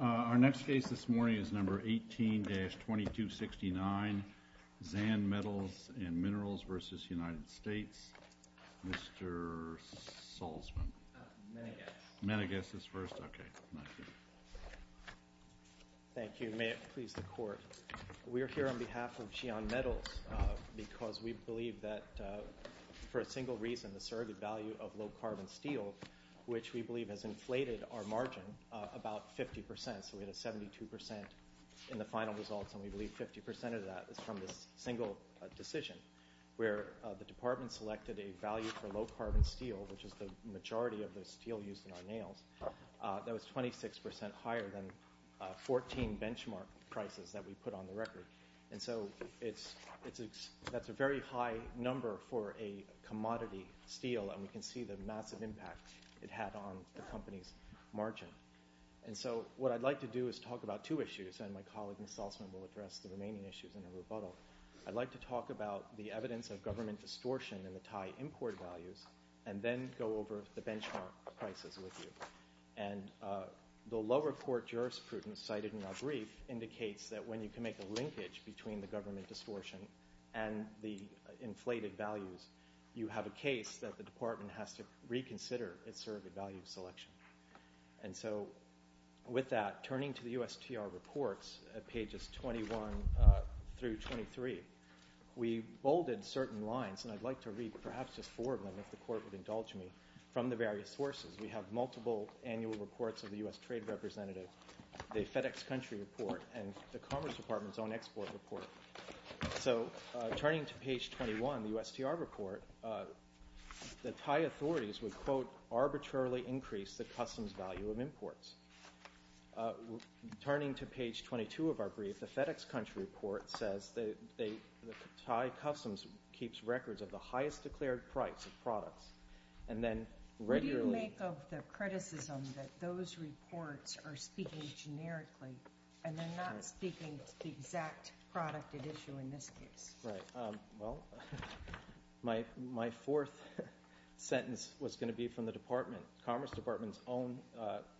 Our next case this morning is No. 18-2269, X'An Metals & Minerals v. United States. Mr. Salzman. Manigas. Manigas is first. Okay. Thank you. May it please the Court. We're here on behalf of X'An Metals because we believe that for a single reason, the surrogate value of low-carbon steel, which we believe has inflated our margin about 50%, so we had a 72% in the final results, and we believe 50% of that is from this single decision, where the Department selected a value for low-carbon steel, which is the majority of the steel used in our nails, that was 26% higher than 14 benchmark prices that we put on the record. And so that's a very high number for a commodity steel, and we can see the massive impact it had on the company's margin. And so what I'd like to do is talk about two issues, and my colleague, Mr. Salzman, will address the remaining issues in a rebuttal. I'd like to talk about the evidence of government distortion in the Thai import values and then go over the benchmark prices with you. And the lower court jurisprudence cited in our brief indicates that when you can make a linkage between the government distortion and the inflated values, you have a case that the Department has to reconsider its surrogate value selection. And so with that, turning to the USTR reports at pages 21 through 23, we bolded certain lines, and I'd like to read perhaps just four of them, if the Court would indulge me, from the various sources. We have multiple annual reports of the U.S. Trade Representative, the FedEx Country Report, and the Commerce Department's own export report. So turning to page 21, the USTR report, the Thai authorities would, quote, arbitrarily increase the customs value of imports. Turning to page 22 of our brief, the FedEx Country Report says that Thai customs keeps records of the highest declared price of products, and then regularly What do you make of the criticism that those reports are speaking generically and they're not speaking to the exact product at issue in this case? Right. Well, my fourth sentence was going to be from the Department, Commerce Department's own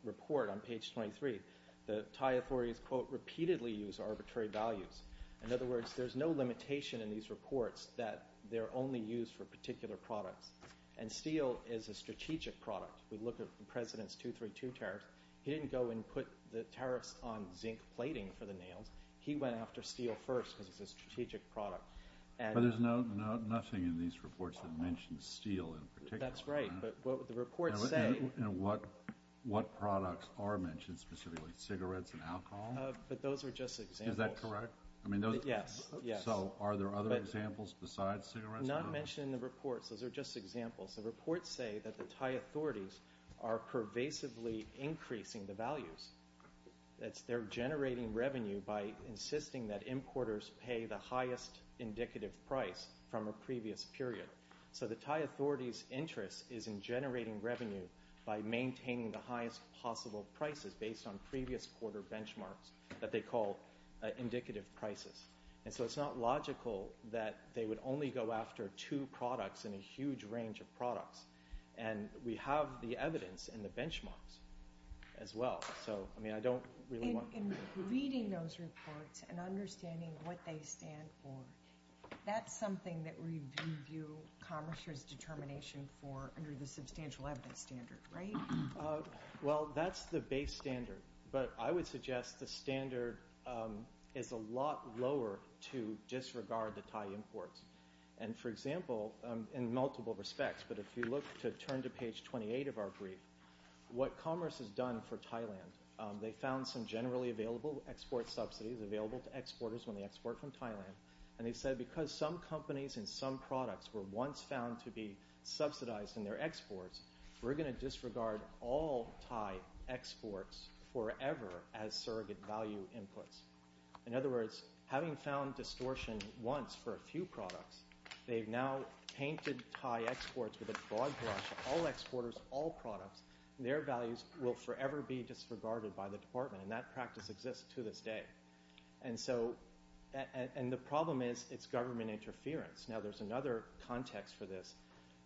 report on page 23. The Thai authorities, quote, repeatedly use arbitrary values. In other words, there's no limitation in these reports that they're only used for particular products. And steel is a strategic product. We look at the President's 232 tariffs. He didn't go and put the tariffs on zinc plating for the nails. He went after steel first because it's a strategic product. But there's nothing in these reports that mentions steel in particular. That's right, but what the reports say And what products are mentioned specifically, cigarettes and alcohol? But those are just examples. Is that correct? Yes, yes. So are there other examples besides cigarettes? I'm not mentioning the reports. Those are just examples. The reports say that the Thai authorities are pervasively increasing the values. They're generating revenue by insisting that importers pay the highest indicative price from a previous period. So the Thai authorities' interest is in generating revenue by maintaining the highest possible prices based on previous quarter benchmarks that they call indicative prices. And so it's not logical that they would only go after two products in a huge range of products. And we have the evidence in the benchmarks as well. So, I mean, I don't really want to In reading those reports and understanding what they stand for, that's something that we view commerce as determination for under the substantial evidence standard, right? Well, that's the base standard. But I would suggest the standard is a lot lower to disregard the Thai imports. And, for example, in multiple respects, but if you look to turn to page 28 of our brief, what commerce has done for Thailand, they found some generally available export subsidies available to exporters when they export from Thailand. And they said because some companies and some products were once found to be subsidized in their exports, we're going to disregard all Thai exports forever as surrogate value inputs. In other words, having found distortion once for a few products, they've now painted Thai exports with a broad brush, all exporters, all products, and their values will forever be disregarded by the department. And that practice exists to this day. And the problem is it's government interference. Now, there's another context for this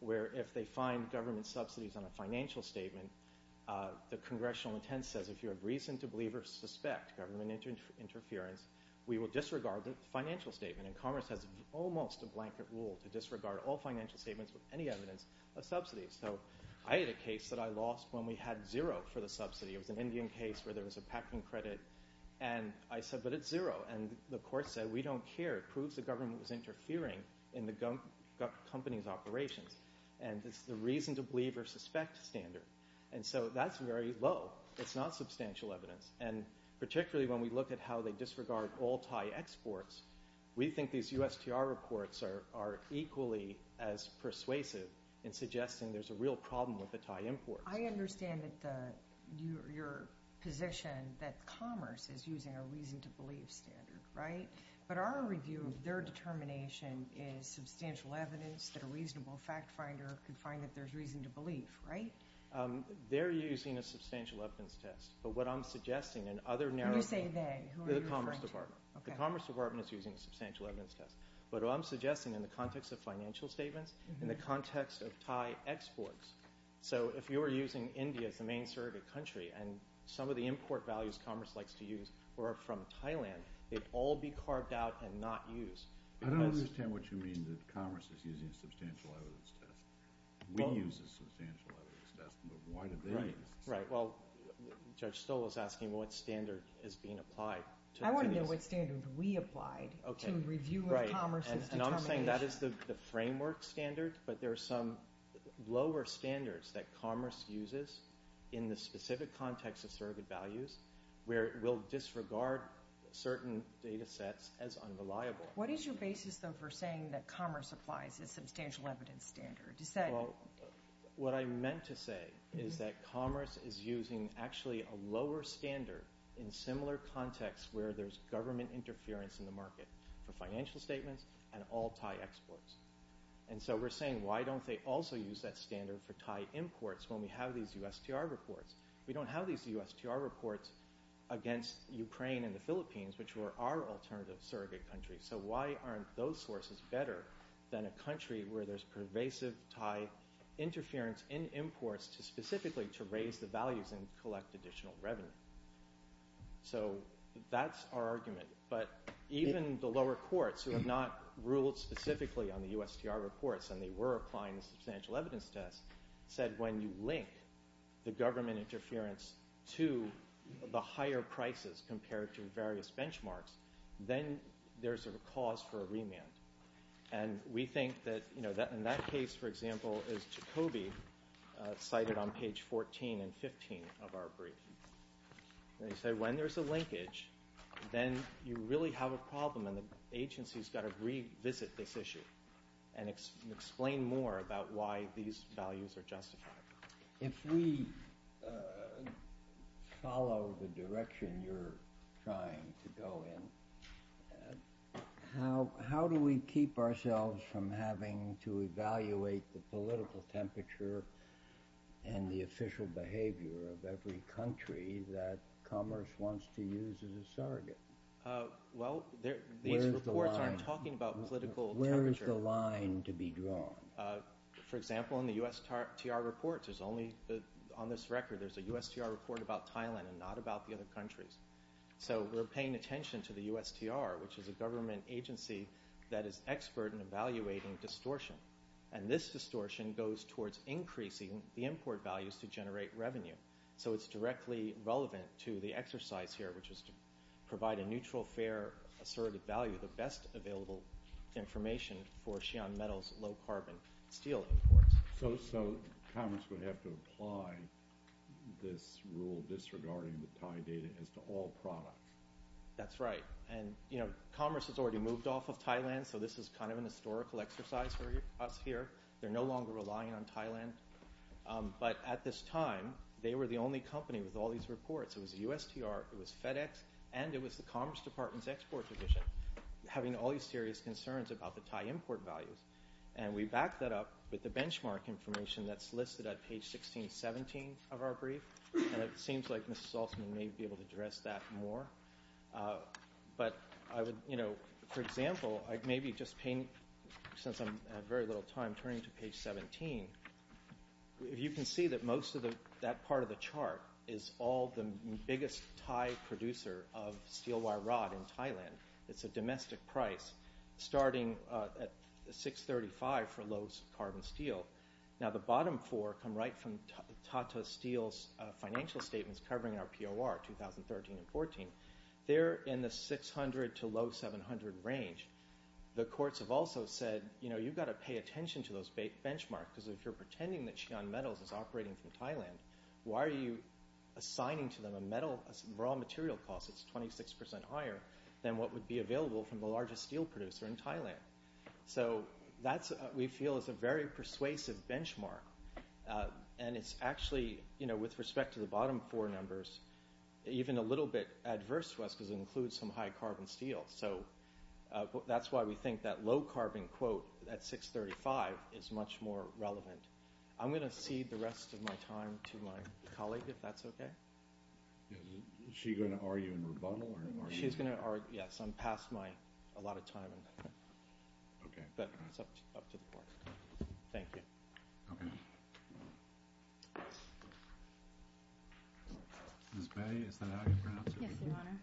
where if they find government subsidies on a financial statement, the congressional intent says if you have reason to believe or suspect government interference, we will disregard the financial statement. And commerce has almost a blanket rule to disregard all financial statements with any evidence of subsidies. So I had a case that I lost when we had zero for the subsidy. It was an Indian case where there was a packing credit. And I said, but it's zero. And the court said, we don't care. It proves the government was interfering in the company's operations. And it's the reason to believe or suspect standard. And so that's very low. It's not substantial evidence. And particularly when we look at how they disregard all Thai exports, we think these USTR reports are equally as persuasive in suggesting there's a real problem with the Thai imports. I understand your position that commerce is using a reason to believe standard, right? But our review of their determination is substantial evidence, that a reasonable fact finder could find that there's reason to believe, right? They're using a substantial evidence test. But what I'm suggesting in other narratives. When you say they, who are you referring to? The Commerce Department. The Commerce Department is using a substantial evidence test. But what I'm suggesting in the context of financial statements, in the context of Thai exports, so if you were using India as the main surrogate country and some of the import values commerce likes to use were from Thailand, they'd all be carved out and not used. I don't understand what you mean that commerce is using a substantial evidence test. We use a substantial evidence test, but why do they use it? Right. Well, Judge Stoll is asking what standard is being applied. I want to know what standard we applied to review of commerce's determination. Right. And I'm saying that is the framework standard, but there are some lower standards that commerce uses in the specific context of surrogate values where it will disregard certain data sets as unreliable. What is your basis, though, for saying that commerce applies a substantial evidence standard? Well, what I meant to say is that commerce is using actually a lower standard in similar contexts where there's government interference in the market for financial statements and all Thai exports. And so we're saying why don't they also use that standard for Thai imports when we have these USTR reports? We don't have these USTR reports against Ukraine and the Philippines, which were our alternative surrogate countries. So why aren't those sources better than a country where there's pervasive Thai interference in imports specifically to raise the values and collect additional revenue? So that's our argument. But even the lower courts, who have not ruled specifically on the USTR reports and they were applying the substantial evidence test, said when you link the government interference to the higher prices compared to various benchmarks, then there's a cause for a remand. And we think that in that case, for example, as Jacoby cited on page 14 and 15 of our brief, they say when there's a linkage, then you really have a problem and the agency's got to revisit this issue and explain more about why these values are justified. If we follow the direction you're trying to go in, how do we keep ourselves from having to evaluate the political temperature and the official behavior of every country that commerce wants to use as a surrogate? Well, these reports aren't talking about political temperature. Where is the line to be drawn? For example, in the USTR reports, on this record, there's a USTR report about Thailand and not about the other countries. So we're paying attention to the USTR, which is a government agency that is expert in evaluating distortion. And this distortion goes towards increasing the import values to generate revenue. So it's directly relevant to the exercise here, which is to provide a neutral, fair, assertive value, the best available information for Xi'an Metal's low-carbon steel imports. So commerce would have to apply this rule disregarding the Thai data as to all products? That's right. And commerce has already moved off of Thailand, so this is kind of a historical exercise for us here. They're no longer relying on Thailand. But at this time, they were the only company with all these reports. It was the USTR, it was FedEx, and it was the Commerce Department's export division, having all these serious concerns about the Thai import values. And we backed that up with the benchmark information that's listed at page 1617 of our brief. And it seems like Mrs. Altman may be able to address that more. But I would, you know, for example, I'd maybe just paint, since I have very little time, turning to page 17. You can see that most of that part of the chart is all the biggest Thai producer of steel wire rod in Thailand. It's a domestic price, starting at 635 for low-carbon steel. Now the bottom four come right from Tata Steel's financial statements covering our POR 2013 and 14. They're in the 600 to low 700 range. The courts have also said, you know, you've got to pay attention to those benchmarks because if you're pretending that Xi'an Metals is operating from Thailand, why are you assigning to them a raw material cost that's 26% higher than what would be available from the largest steel producer in Thailand? So that, we feel, is a very persuasive benchmark. And it's actually, you know, with respect to the bottom four numbers, even a little bit adverse to us because it includes some high-carbon steel. So that's why we think that low-carbon quote at 635 is much more relevant. I'm going to cede the rest of my time to my colleague, if that's okay. Is she going to argue in rebuttal? She's going to argue, yes. I'm past my, a lot of time. Okay. But it's up to the court. Thank you. Okay. Ms. Bae, is that how you pronounce it? Yes, Your Honor.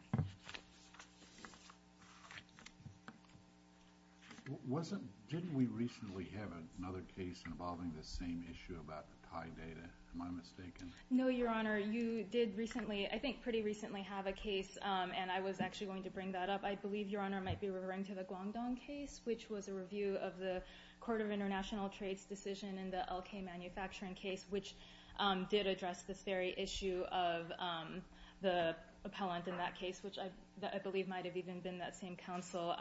Didn't we recently have another case involving this same issue about the Thai data? Am I mistaken? No, Your Honor. You did recently, I think pretty recently, have a case, and I was actually going to bring that up. I believe, Your Honor, it might be referring to the Guangdong case, which was a review of the Court of International Trades decision in the LK manufacturing case, which did address this very issue of the appellant in that case, which I believe might have even been that same counsel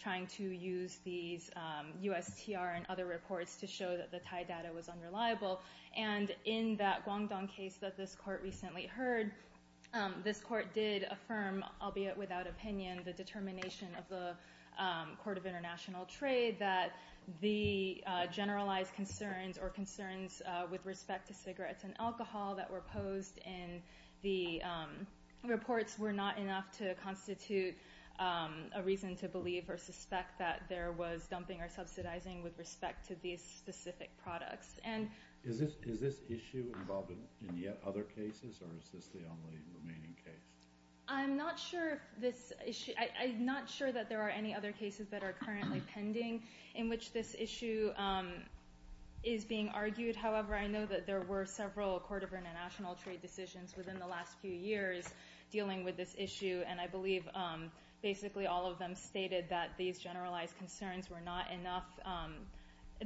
trying to use these USTR and other reports to show that the Thai data was unreliable. And in that Guangdong case that this court recently heard, this court did affirm, albeit without opinion, the determination of the Court of International Trade that the generalized concerns or concerns with respect to cigarettes and alcohol that were posed in the reports were not enough to constitute a reason to believe or suspect that there was dumping or subsidizing with respect to these specific products. Is this issue involved in yet other cases, or is this the only remaining case? I'm not sure if this issue... I'm not sure that there are any other cases that are currently pending in which this issue is being argued. However, I know that there were several Court of International Trade decisions within the last few years dealing with this issue, and I believe basically all of them stated that these generalized concerns were not enough,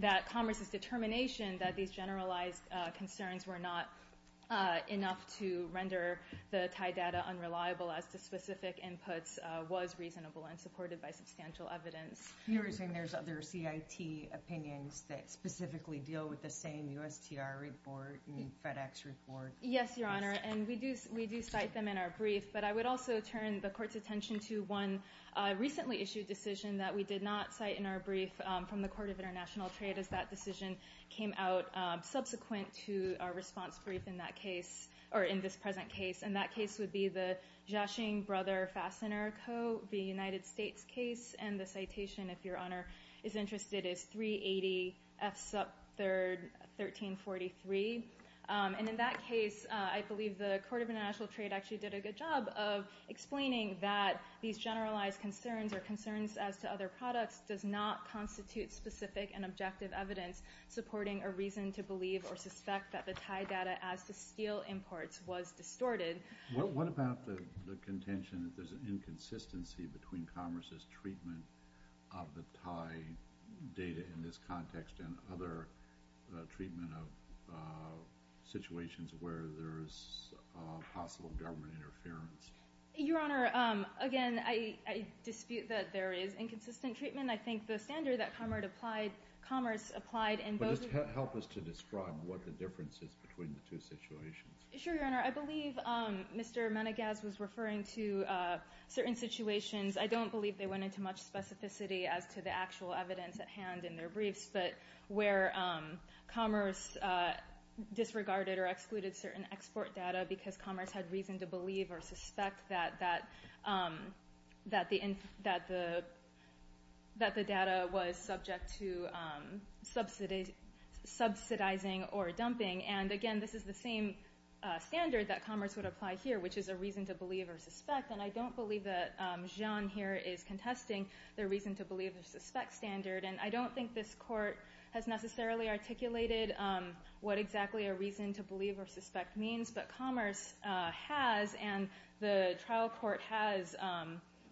that Congress's determination that these generalized concerns were not enough to render the Thai data unreliable as to specific inputs was reasonable and supported by substantial evidence. You're saying there's other CIT opinions that specifically deal with the same USTR report and FedEx report? Yes, Your Honor, and we do cite them in our brief, but I would also turn the Court's attention to one recently issued decision that we did not cite in our brief from the Court of International Trade as that decision came out subsequent to our response brief in that case, or in this present case, and that case would be the Jiaxing Brother Fastener Co., the United States case, and the citation, if Your Honor is interested, is 380 F. Sup. 1343. And in that case, I believe the Court of International Trade actually did a good job of explaining that these generalized concerns or concerns as to other products does not constitute specific and objective evidence supporting a reason to believe or suspect that the Thai data as to steel imports was distorted. What about the contention that there's an inconsistency between Congress's treatment of the Thai data in this context and other treatment of situations where there is possible government interference? Your Honor, again, I dispute that there is inconsistent treatment. I think the standard that Commerce applied in both of those cases— But just help us to describe what the difference is between the two situations. Sure, Your Honor. I believe Mr. Menegas was referring to certain situations. I don't believe they went into much specificity as to the actual evidence at hand in their briefs, but where Commerce disregarded or excluded certain export data because Commerce had reason to believe or suspect that the data was subject to subsidizing or dumping. And again, this is the same standard that Commerce would apply here, which is a reason to believe or suspect. And I don't believe that Jeanne here is contesting the reason to believe or suspect standard. And I don't think this Court has necessarily articulated what exactly a reason to believe or suspect means, but Commerce has, and the trial court has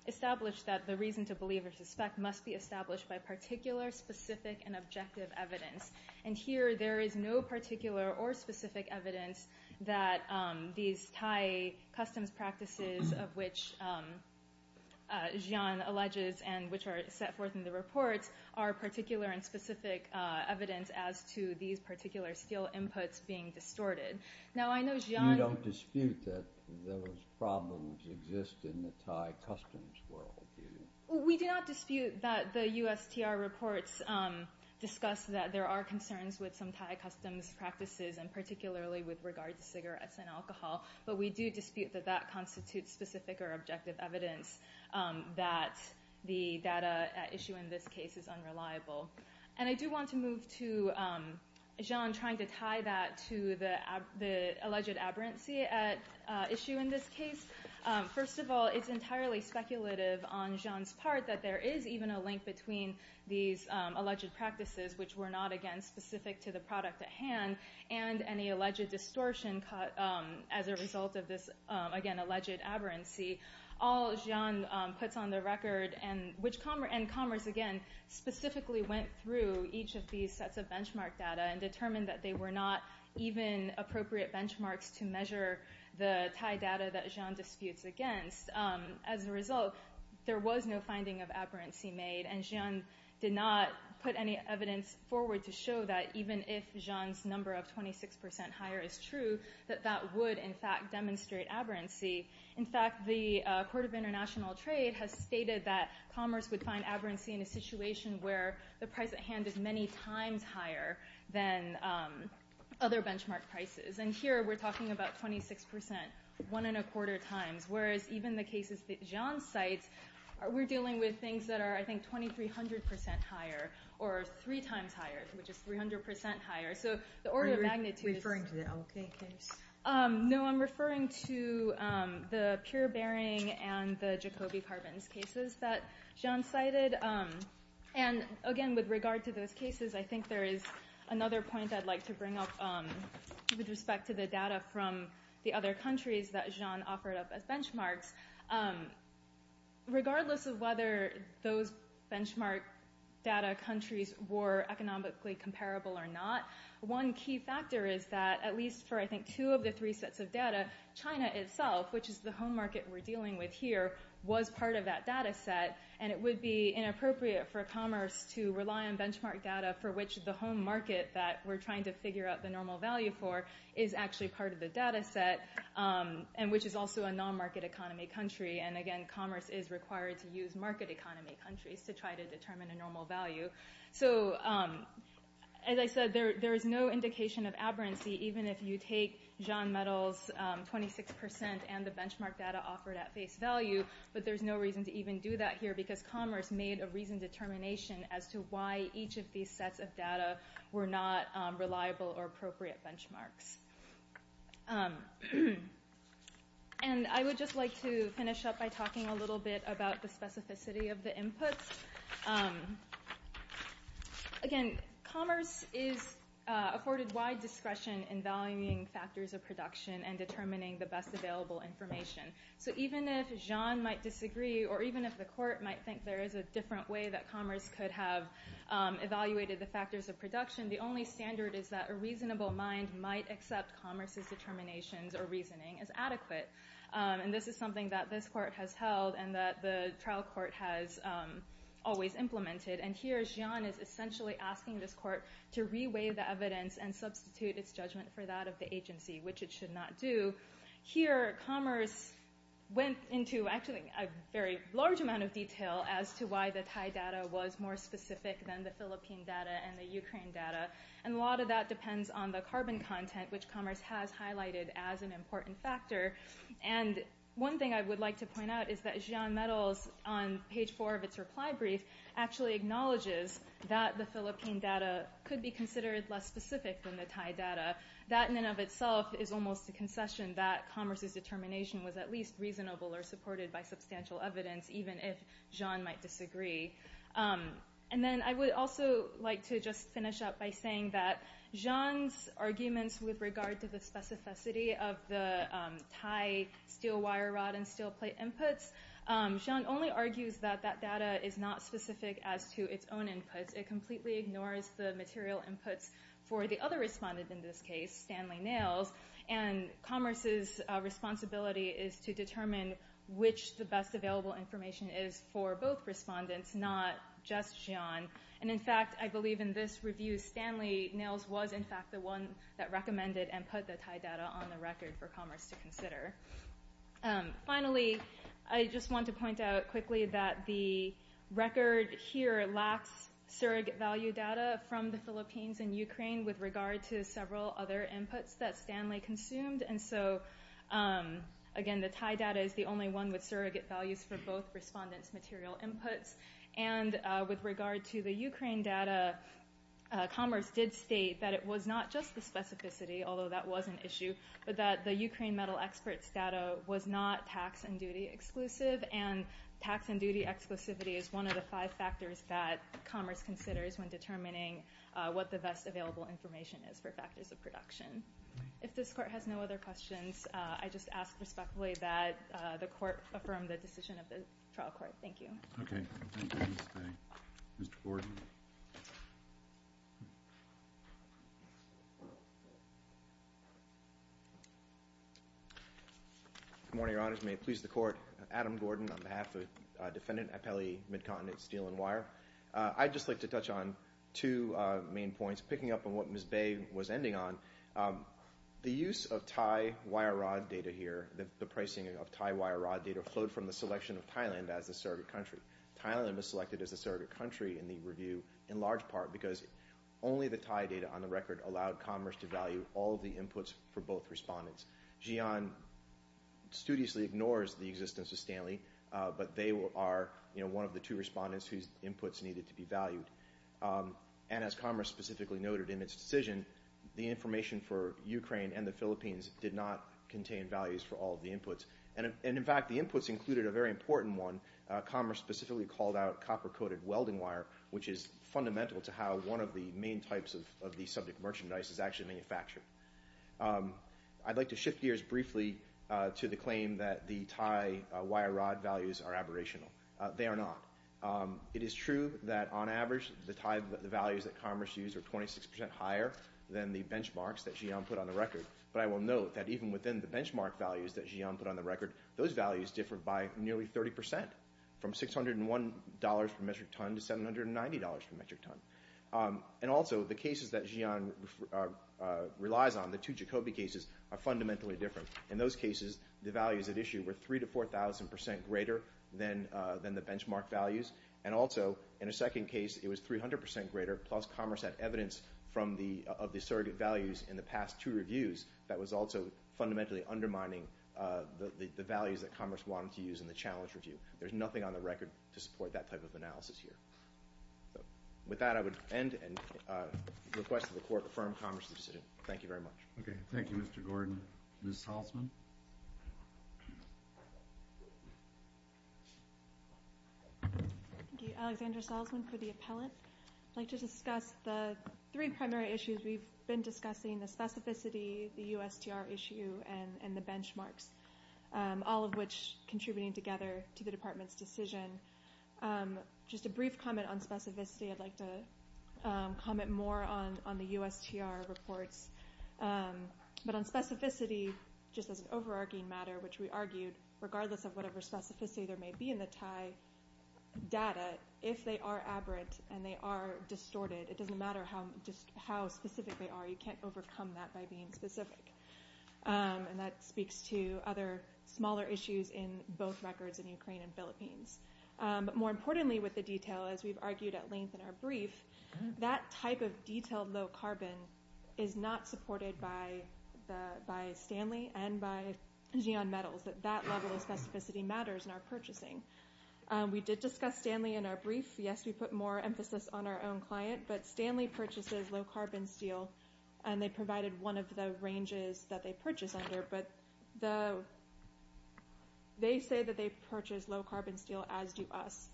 established that the reason to believe or suspect must be established by particular, specific, and objective evidence. And here, there is no particular or specific evidence that these Thai customs practices of which Jeanne alleges and which are set forth in the reports are particular and specific evidence as to these particular steel inputs being distorted. Now, I know Jeanne... You don't dispute that those problems exist in the Thai customs world, do you? We do not dispute that the USTR reports discuss that there are concerns with some Thai customs practices and particularly with regard to cigarettes and alcohol, but we do dispute that that constitutes specific or objective evidence that the data at issue in this case is unreliable. And I do want to move to Jeanne trying to tie that to the alleged aberrancy at issue in this case. First of all, it's entirely speculative on Jeanne's part that there is even a link between these alleged practices, which were not, again, specific to the product at hand, and any alleged distortion as a result of this, again, alleged aberrancy. All Jeanne puts on the record, and Commerce, again, specifically went through each of these sets of benchmark data and determined that they were not even appropriate benchmarks to measure the Thai data that Jeanne disputes against. As a result, there was no finding of aberrancy made, and Jeanne did not put any evidence forward to show that even if Jeanne's number of 26% higher is true, that that would, in fact, demonstrate aberrancy. In fact, the Court of International Trade has stated that Commerce would find aberrancy in a situation where the price at hand is many times higher than other benchmark prices. And here we're talking about 26%, one and a quarter times, whereas even the cases that Jeanne cites, we're dealing with things that are, I think, 2,300% higher or three times higher, which is 300% higher. So the order of magnitude is... Are you referring to the OK case? No, I'm referring to the pure bearing and the Jacobi carbons cases that Jeanne cited. And again, with regard to those cases, I think there is another point I'd like to bring up with respect to the data from the other countries that Jeanne offered up as benchmarks. Regardless of whether those benchmark data countries were economically comparable or not, one key factor is that at least for, I think, two of the three sets of data, China itself, which is the home market we're dealing with here, was part of that data set, and it would be inappropriate for Commerce to rely on benchmark data for which the home market that we're trying to figure out the normal value for is actually part of the data set, and which is also a non-market economy country. And again, Commerce is required to use market economy countries to try to determine a normal value. So as I said, there is no indication of aberrancy even if you take Jeanne Metal's 26% and the benchmark data offered at face value, but there's no reason to even do that here because Commerce made a reasoned determination as to why each of these sets of data were not reliable or appropriate benchmarks. And I would just like to finish up by talking a little bit about the specificity of the inputs. Again, Commerce is afforded wide discretion in valuing factors of production and determining the best available information. So even if Jeanne might disagree or even if the court might think there is a different way is that a reasonable mind might accept Commerce's determinations or reasoning as adequate. And this is something that this court has held and that the trial court has always implemented. And here Jeanne is essentially asking this court to reweigh the evidence and substitute its judgment for that of the agency, which it should not do. Here Commerce went into actually a very large amount of detail as to why the Thai data was more specific than the Philippine data and the Ukraine data. And a lot of that depends on the carbon content, which Commerce has highlighted as an important factor. And one thing I would like to point out is that Jeanne Metal's, on page 4 of its reply brief, actually acknowledges that the Philippine data could be considered less specific than the Thai data. That in and of itself is almost a concession that Commerce's determination was at least reasonable or supported by substantial evidence, even if Jeanne might disagree. And then I would also like to just finish up by saying that Jeanne's arguments with regard to the specificity of the Thai steel wire rod and steel plate inputs, Jeanne only argues that that data is not specific as to its own inputs. It completely ignores the material inputs for the other respondent in this case, Stanley Nails. And Commerce's responsibility is to determine which the best available information is for both respondents, not just Jeanne. And in fact, I believe in this review, Stanley Nails was in fact the one that recommended and put the Thai data on the record for Commerce to consider. Finally, I just want to point out quickly that the record here lacks surrogate value data from the Philippines and Ukraine with regard to several other inputs that Stanley consumed. And so again, the Thai data is the only one with surrogate values for both respondents' material inputs. And with regard to the Ukraine data, Commerce did state that it was not just the specificity, although that was an issue, but that the Ukraine metal experts' data was not tax and duty exclusive. And tax and duty exclusivity is one of the five factors that Commerce considers when determining what the best available information is for factors of production. If this Court has no other questions, I just ask respectfully that the Court affirm the decision of the trial court. Thank you. Okay. Mr. Gordon. Good morning, Your Honors. May it please the Court. Adam Gordon on behalf of Defendant Appelli, Midcontinent Steel and Wire. I'd just like to touch on two main points, picking up on what Ms. Bay was ending on. The use of Thai wire rod data here, the pricing of Thai wire rod data, flowed from the selection of Thailand as the surrogate country. Thailand was selected as the surrogate country in the review in large part because only the Thai data on the record allowed Commerce to value all of the inputs for both respondents. Jian studiously ignores the existence of Stanley, but they are one of the two respondents whose inputs needed to be valued. And as Commerce specifically noted in its decision, the information for Ukraine and the Philippines did not contain values for all of the inputs. And, in fact, the inputs included a very important one. Commerce specifically called out copper-coated welding wire, which is fundamental to how one of the main types of the subject merchandise is actually manufactured. I'd like to shift gears briefly to the claim that the Thai wire rod values are aberrational. They are not. It is true that, on average, the Thai values that Commerce used are 26 percent higher than the benchmarks that Jian put on the record. But I will note that even within the benchmark values that Jian put on the record, those values differ by nearly 30 percent, from $601 per metric ton to $790 per metric ton. And also, the cases that Jian relies on, the two Jacobi cases, are fundamentally different. In those cases, the values at issue were 3,000 to 4,000 percent greater than the benchmark values. And also, in a second case, it was 300 percent greater, plus Commerce had evidence of the surrogate values in the past two reviews that was also fundamentally undermining the values that Commerce wanted to use in the challenge review. There's nothing on the record to support that type of analysis here. With that, I would end and request that the Court affirm Congress's decision. Thank you very much. Okay. Thank you, Mr. Gordon. Ms. Salzman? Thank you. Alexandra Salzman for the appellate. I'd like to discuss the three primary issues we've been discussing, the specificity, the USTR issue, and the benchmarks, all of which contributing together to the Department's decision. Just a brief comment on specificity. I'd like to comment more on the USTR reports. But on specificity, just as an overarching matter, which we argued, regardless of whatever specificity there may be in the Thai data, if they are aberrant and they are distorted, it doesn't matter how specific they are. You can't overcome that by being specific. And that speaks to other smaller issues in both records in Ukraine and Philippines. But more importantly with the detail, as we've argued at length in our brief, that type of detailed low carbon is not supported by Stanley and by Xeon Metals, that that level of specificity matters in our purchasing. We did discuss Stanley in our brief. Yes, we put more emphasis on our own client, but Stanley purchases low carbon steel, and they provided one of the ranges that they purchase under, but they say that they purchase low carbon steel as do us.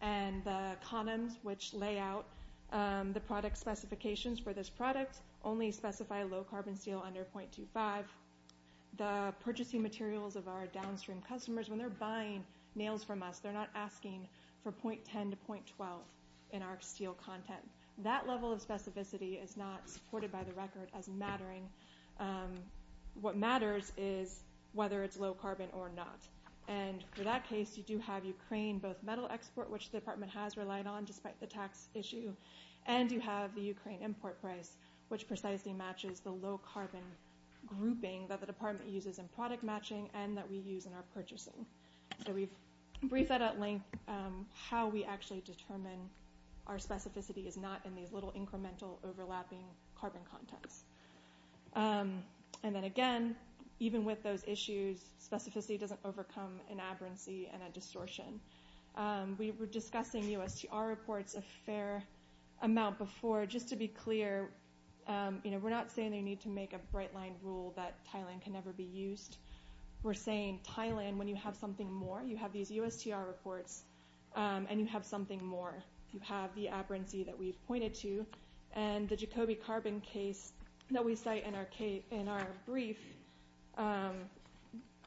And the condoms which lay out the product specifications for this product only specify low carbon steel under 0.25. The purchasing materials of our downstream customers, when they're buying nails from us, they're not asking for 0.10 to 0.12 in our steel content. That level of specificity is not supported by the record as mattering. What matters is whether it's low carbon or not. And for that case, you do have Ukraine both metal export, which the department has relied on despite the tax issue, and you have the Ukraine import price, which precisely matches the low carbon grouping that the department uses in product matching and that we use in our purchasing. So we've briefed that at length, how we actually determine our specificity is not in these little incremental overlapping carbon contents. And then again, even with those issues, specificity doesn't overcome an aberrancy and a distortion. We were discussing USTR reports a fair amount before. Just to be clear, we're not saying that you need to make a bright-line rule that Thailand can never be used. We're saying, Thailand, when you have something more, you have these USTR reports, and you have something more. You have the aberrancy that we've pointed to. And the Jacobi carbon case that we cite in our brief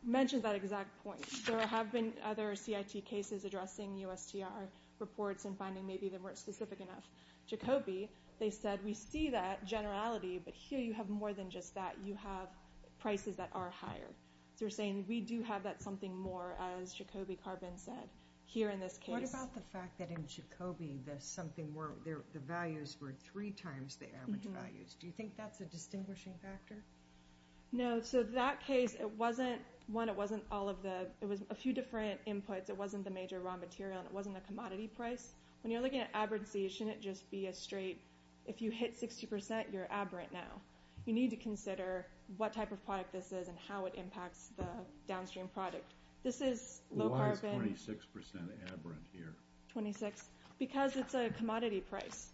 mentions that exact point. There have been other CIT cases addressing USTR reports and finding maybe they weren't specific enough. Jacobi, they said, we see that generality, but here you have more than just that. You have prices that are higher. So we're saying, we do have that something more, as Jacobi carbon said, here in this case. What about the fact that in Jacobi, the values were three times the average values? Do you think that's a distinguishing factor? No. So that case, one, it was a few different inputs. It wasn't the major raw material, and it wasn't a commodity price. When you're looking at aberrancy, it shouldn't just be a straight, if you hit 60%, you're aberrant now. You need to consider what type of product this is and how it impacts the downstream product. This is low carbon. Why is 26% aberrant here? Because it's a commodity price.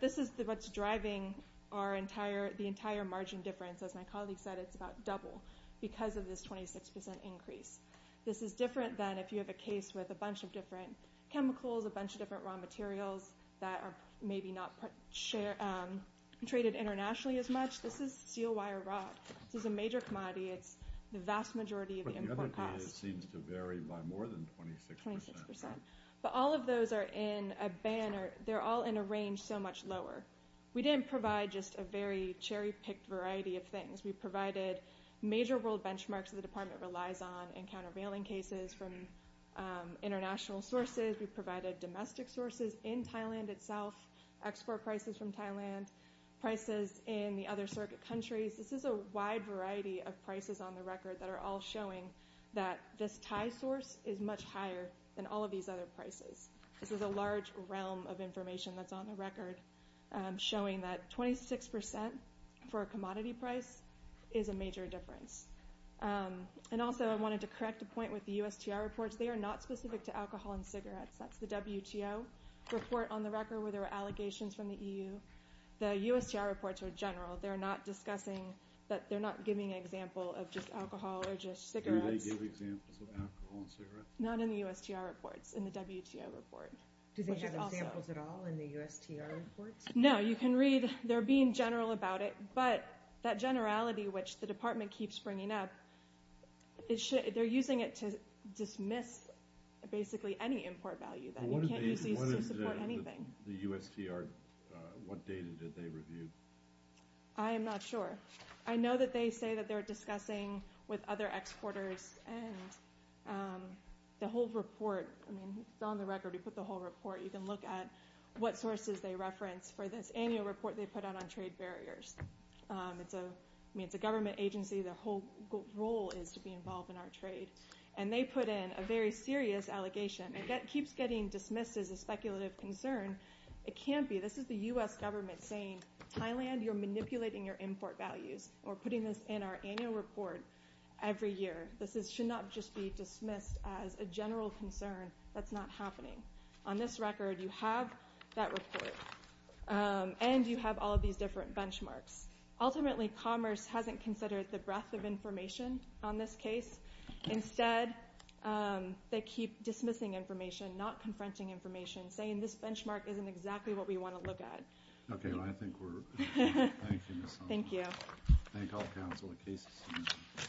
This is what's driving the entire margin difference. As my colleague said, it's about double because of this 26% increase. This is different than if you have a case with a bunch of different chemicals, a bunch of different raw materials that are maybe not traded internationally as much. This is steel wire rot. This is a major commodity. It's the vast majority of the import cost. But the other thing is it seems to vary by more than 26%. 26%. But all of those are in a band or they're all in a range so much lower. We didn't provide just a very cherry-picked variety of things. We provided major world benchmarks that the department relies on in countervailing cases from international sources. We provided domestic sources in Thailand itself, export prices from Thailand, prices in the other circuit countries. This is a wide variety of prices on the record that are all showing that this Thai source is much higher than all of these other prices. This is a large realm of information that's on the record showing that 26% for a commodity price is a major difference. And also I wanted to correct a point with the USTR reports. They are not specific to alcohol and cigarettes. That's the WTO report on the record where there were allegations from the EU. The USTR reports are general. They're not discussing that they're not giving an example of just alcohol or just cigarettes. Do they give examples of alcohol and cigarettes? Not in the USTR reports, in the WTO report. Do they have examples at all in the USTR reports? No, you can read. They're being general about it. But that generality, which the department keeps bringing up, they're using it to dismiss basically any import value. You can't use these to support anything. The USTR, what data did they review? I am not sure. I know that they say that they're discussing with other exporters and the whole report, I mean, it's on the record. We put the whole report. You can look at what sources they reference for this annual report they put out on trade barriers. I mean, it's a government agency. Their whole role is to be involved in our trade. And they put in a very serious allegation. It keeps getting dismissed as a speculative concern. It can't be. This is the US government saying, Thailand, you're manipulating your import values. We're putting this in our annual report every year. This should not just be dismissed as a general concern. That's not happening. On this record, you have that report. And you have all of these different benchmarks. Ultimately, Commerce hasn't considered the breadth of information on this case. Instead, they keep dismissing information, not confronting information, saying this benchmark isn't exactly what we want to look at. Okay, well, I think we're done. Thank you, Ms. Sullivan. Thank you. Thank you all. Thank all the counsel. The case is submitted.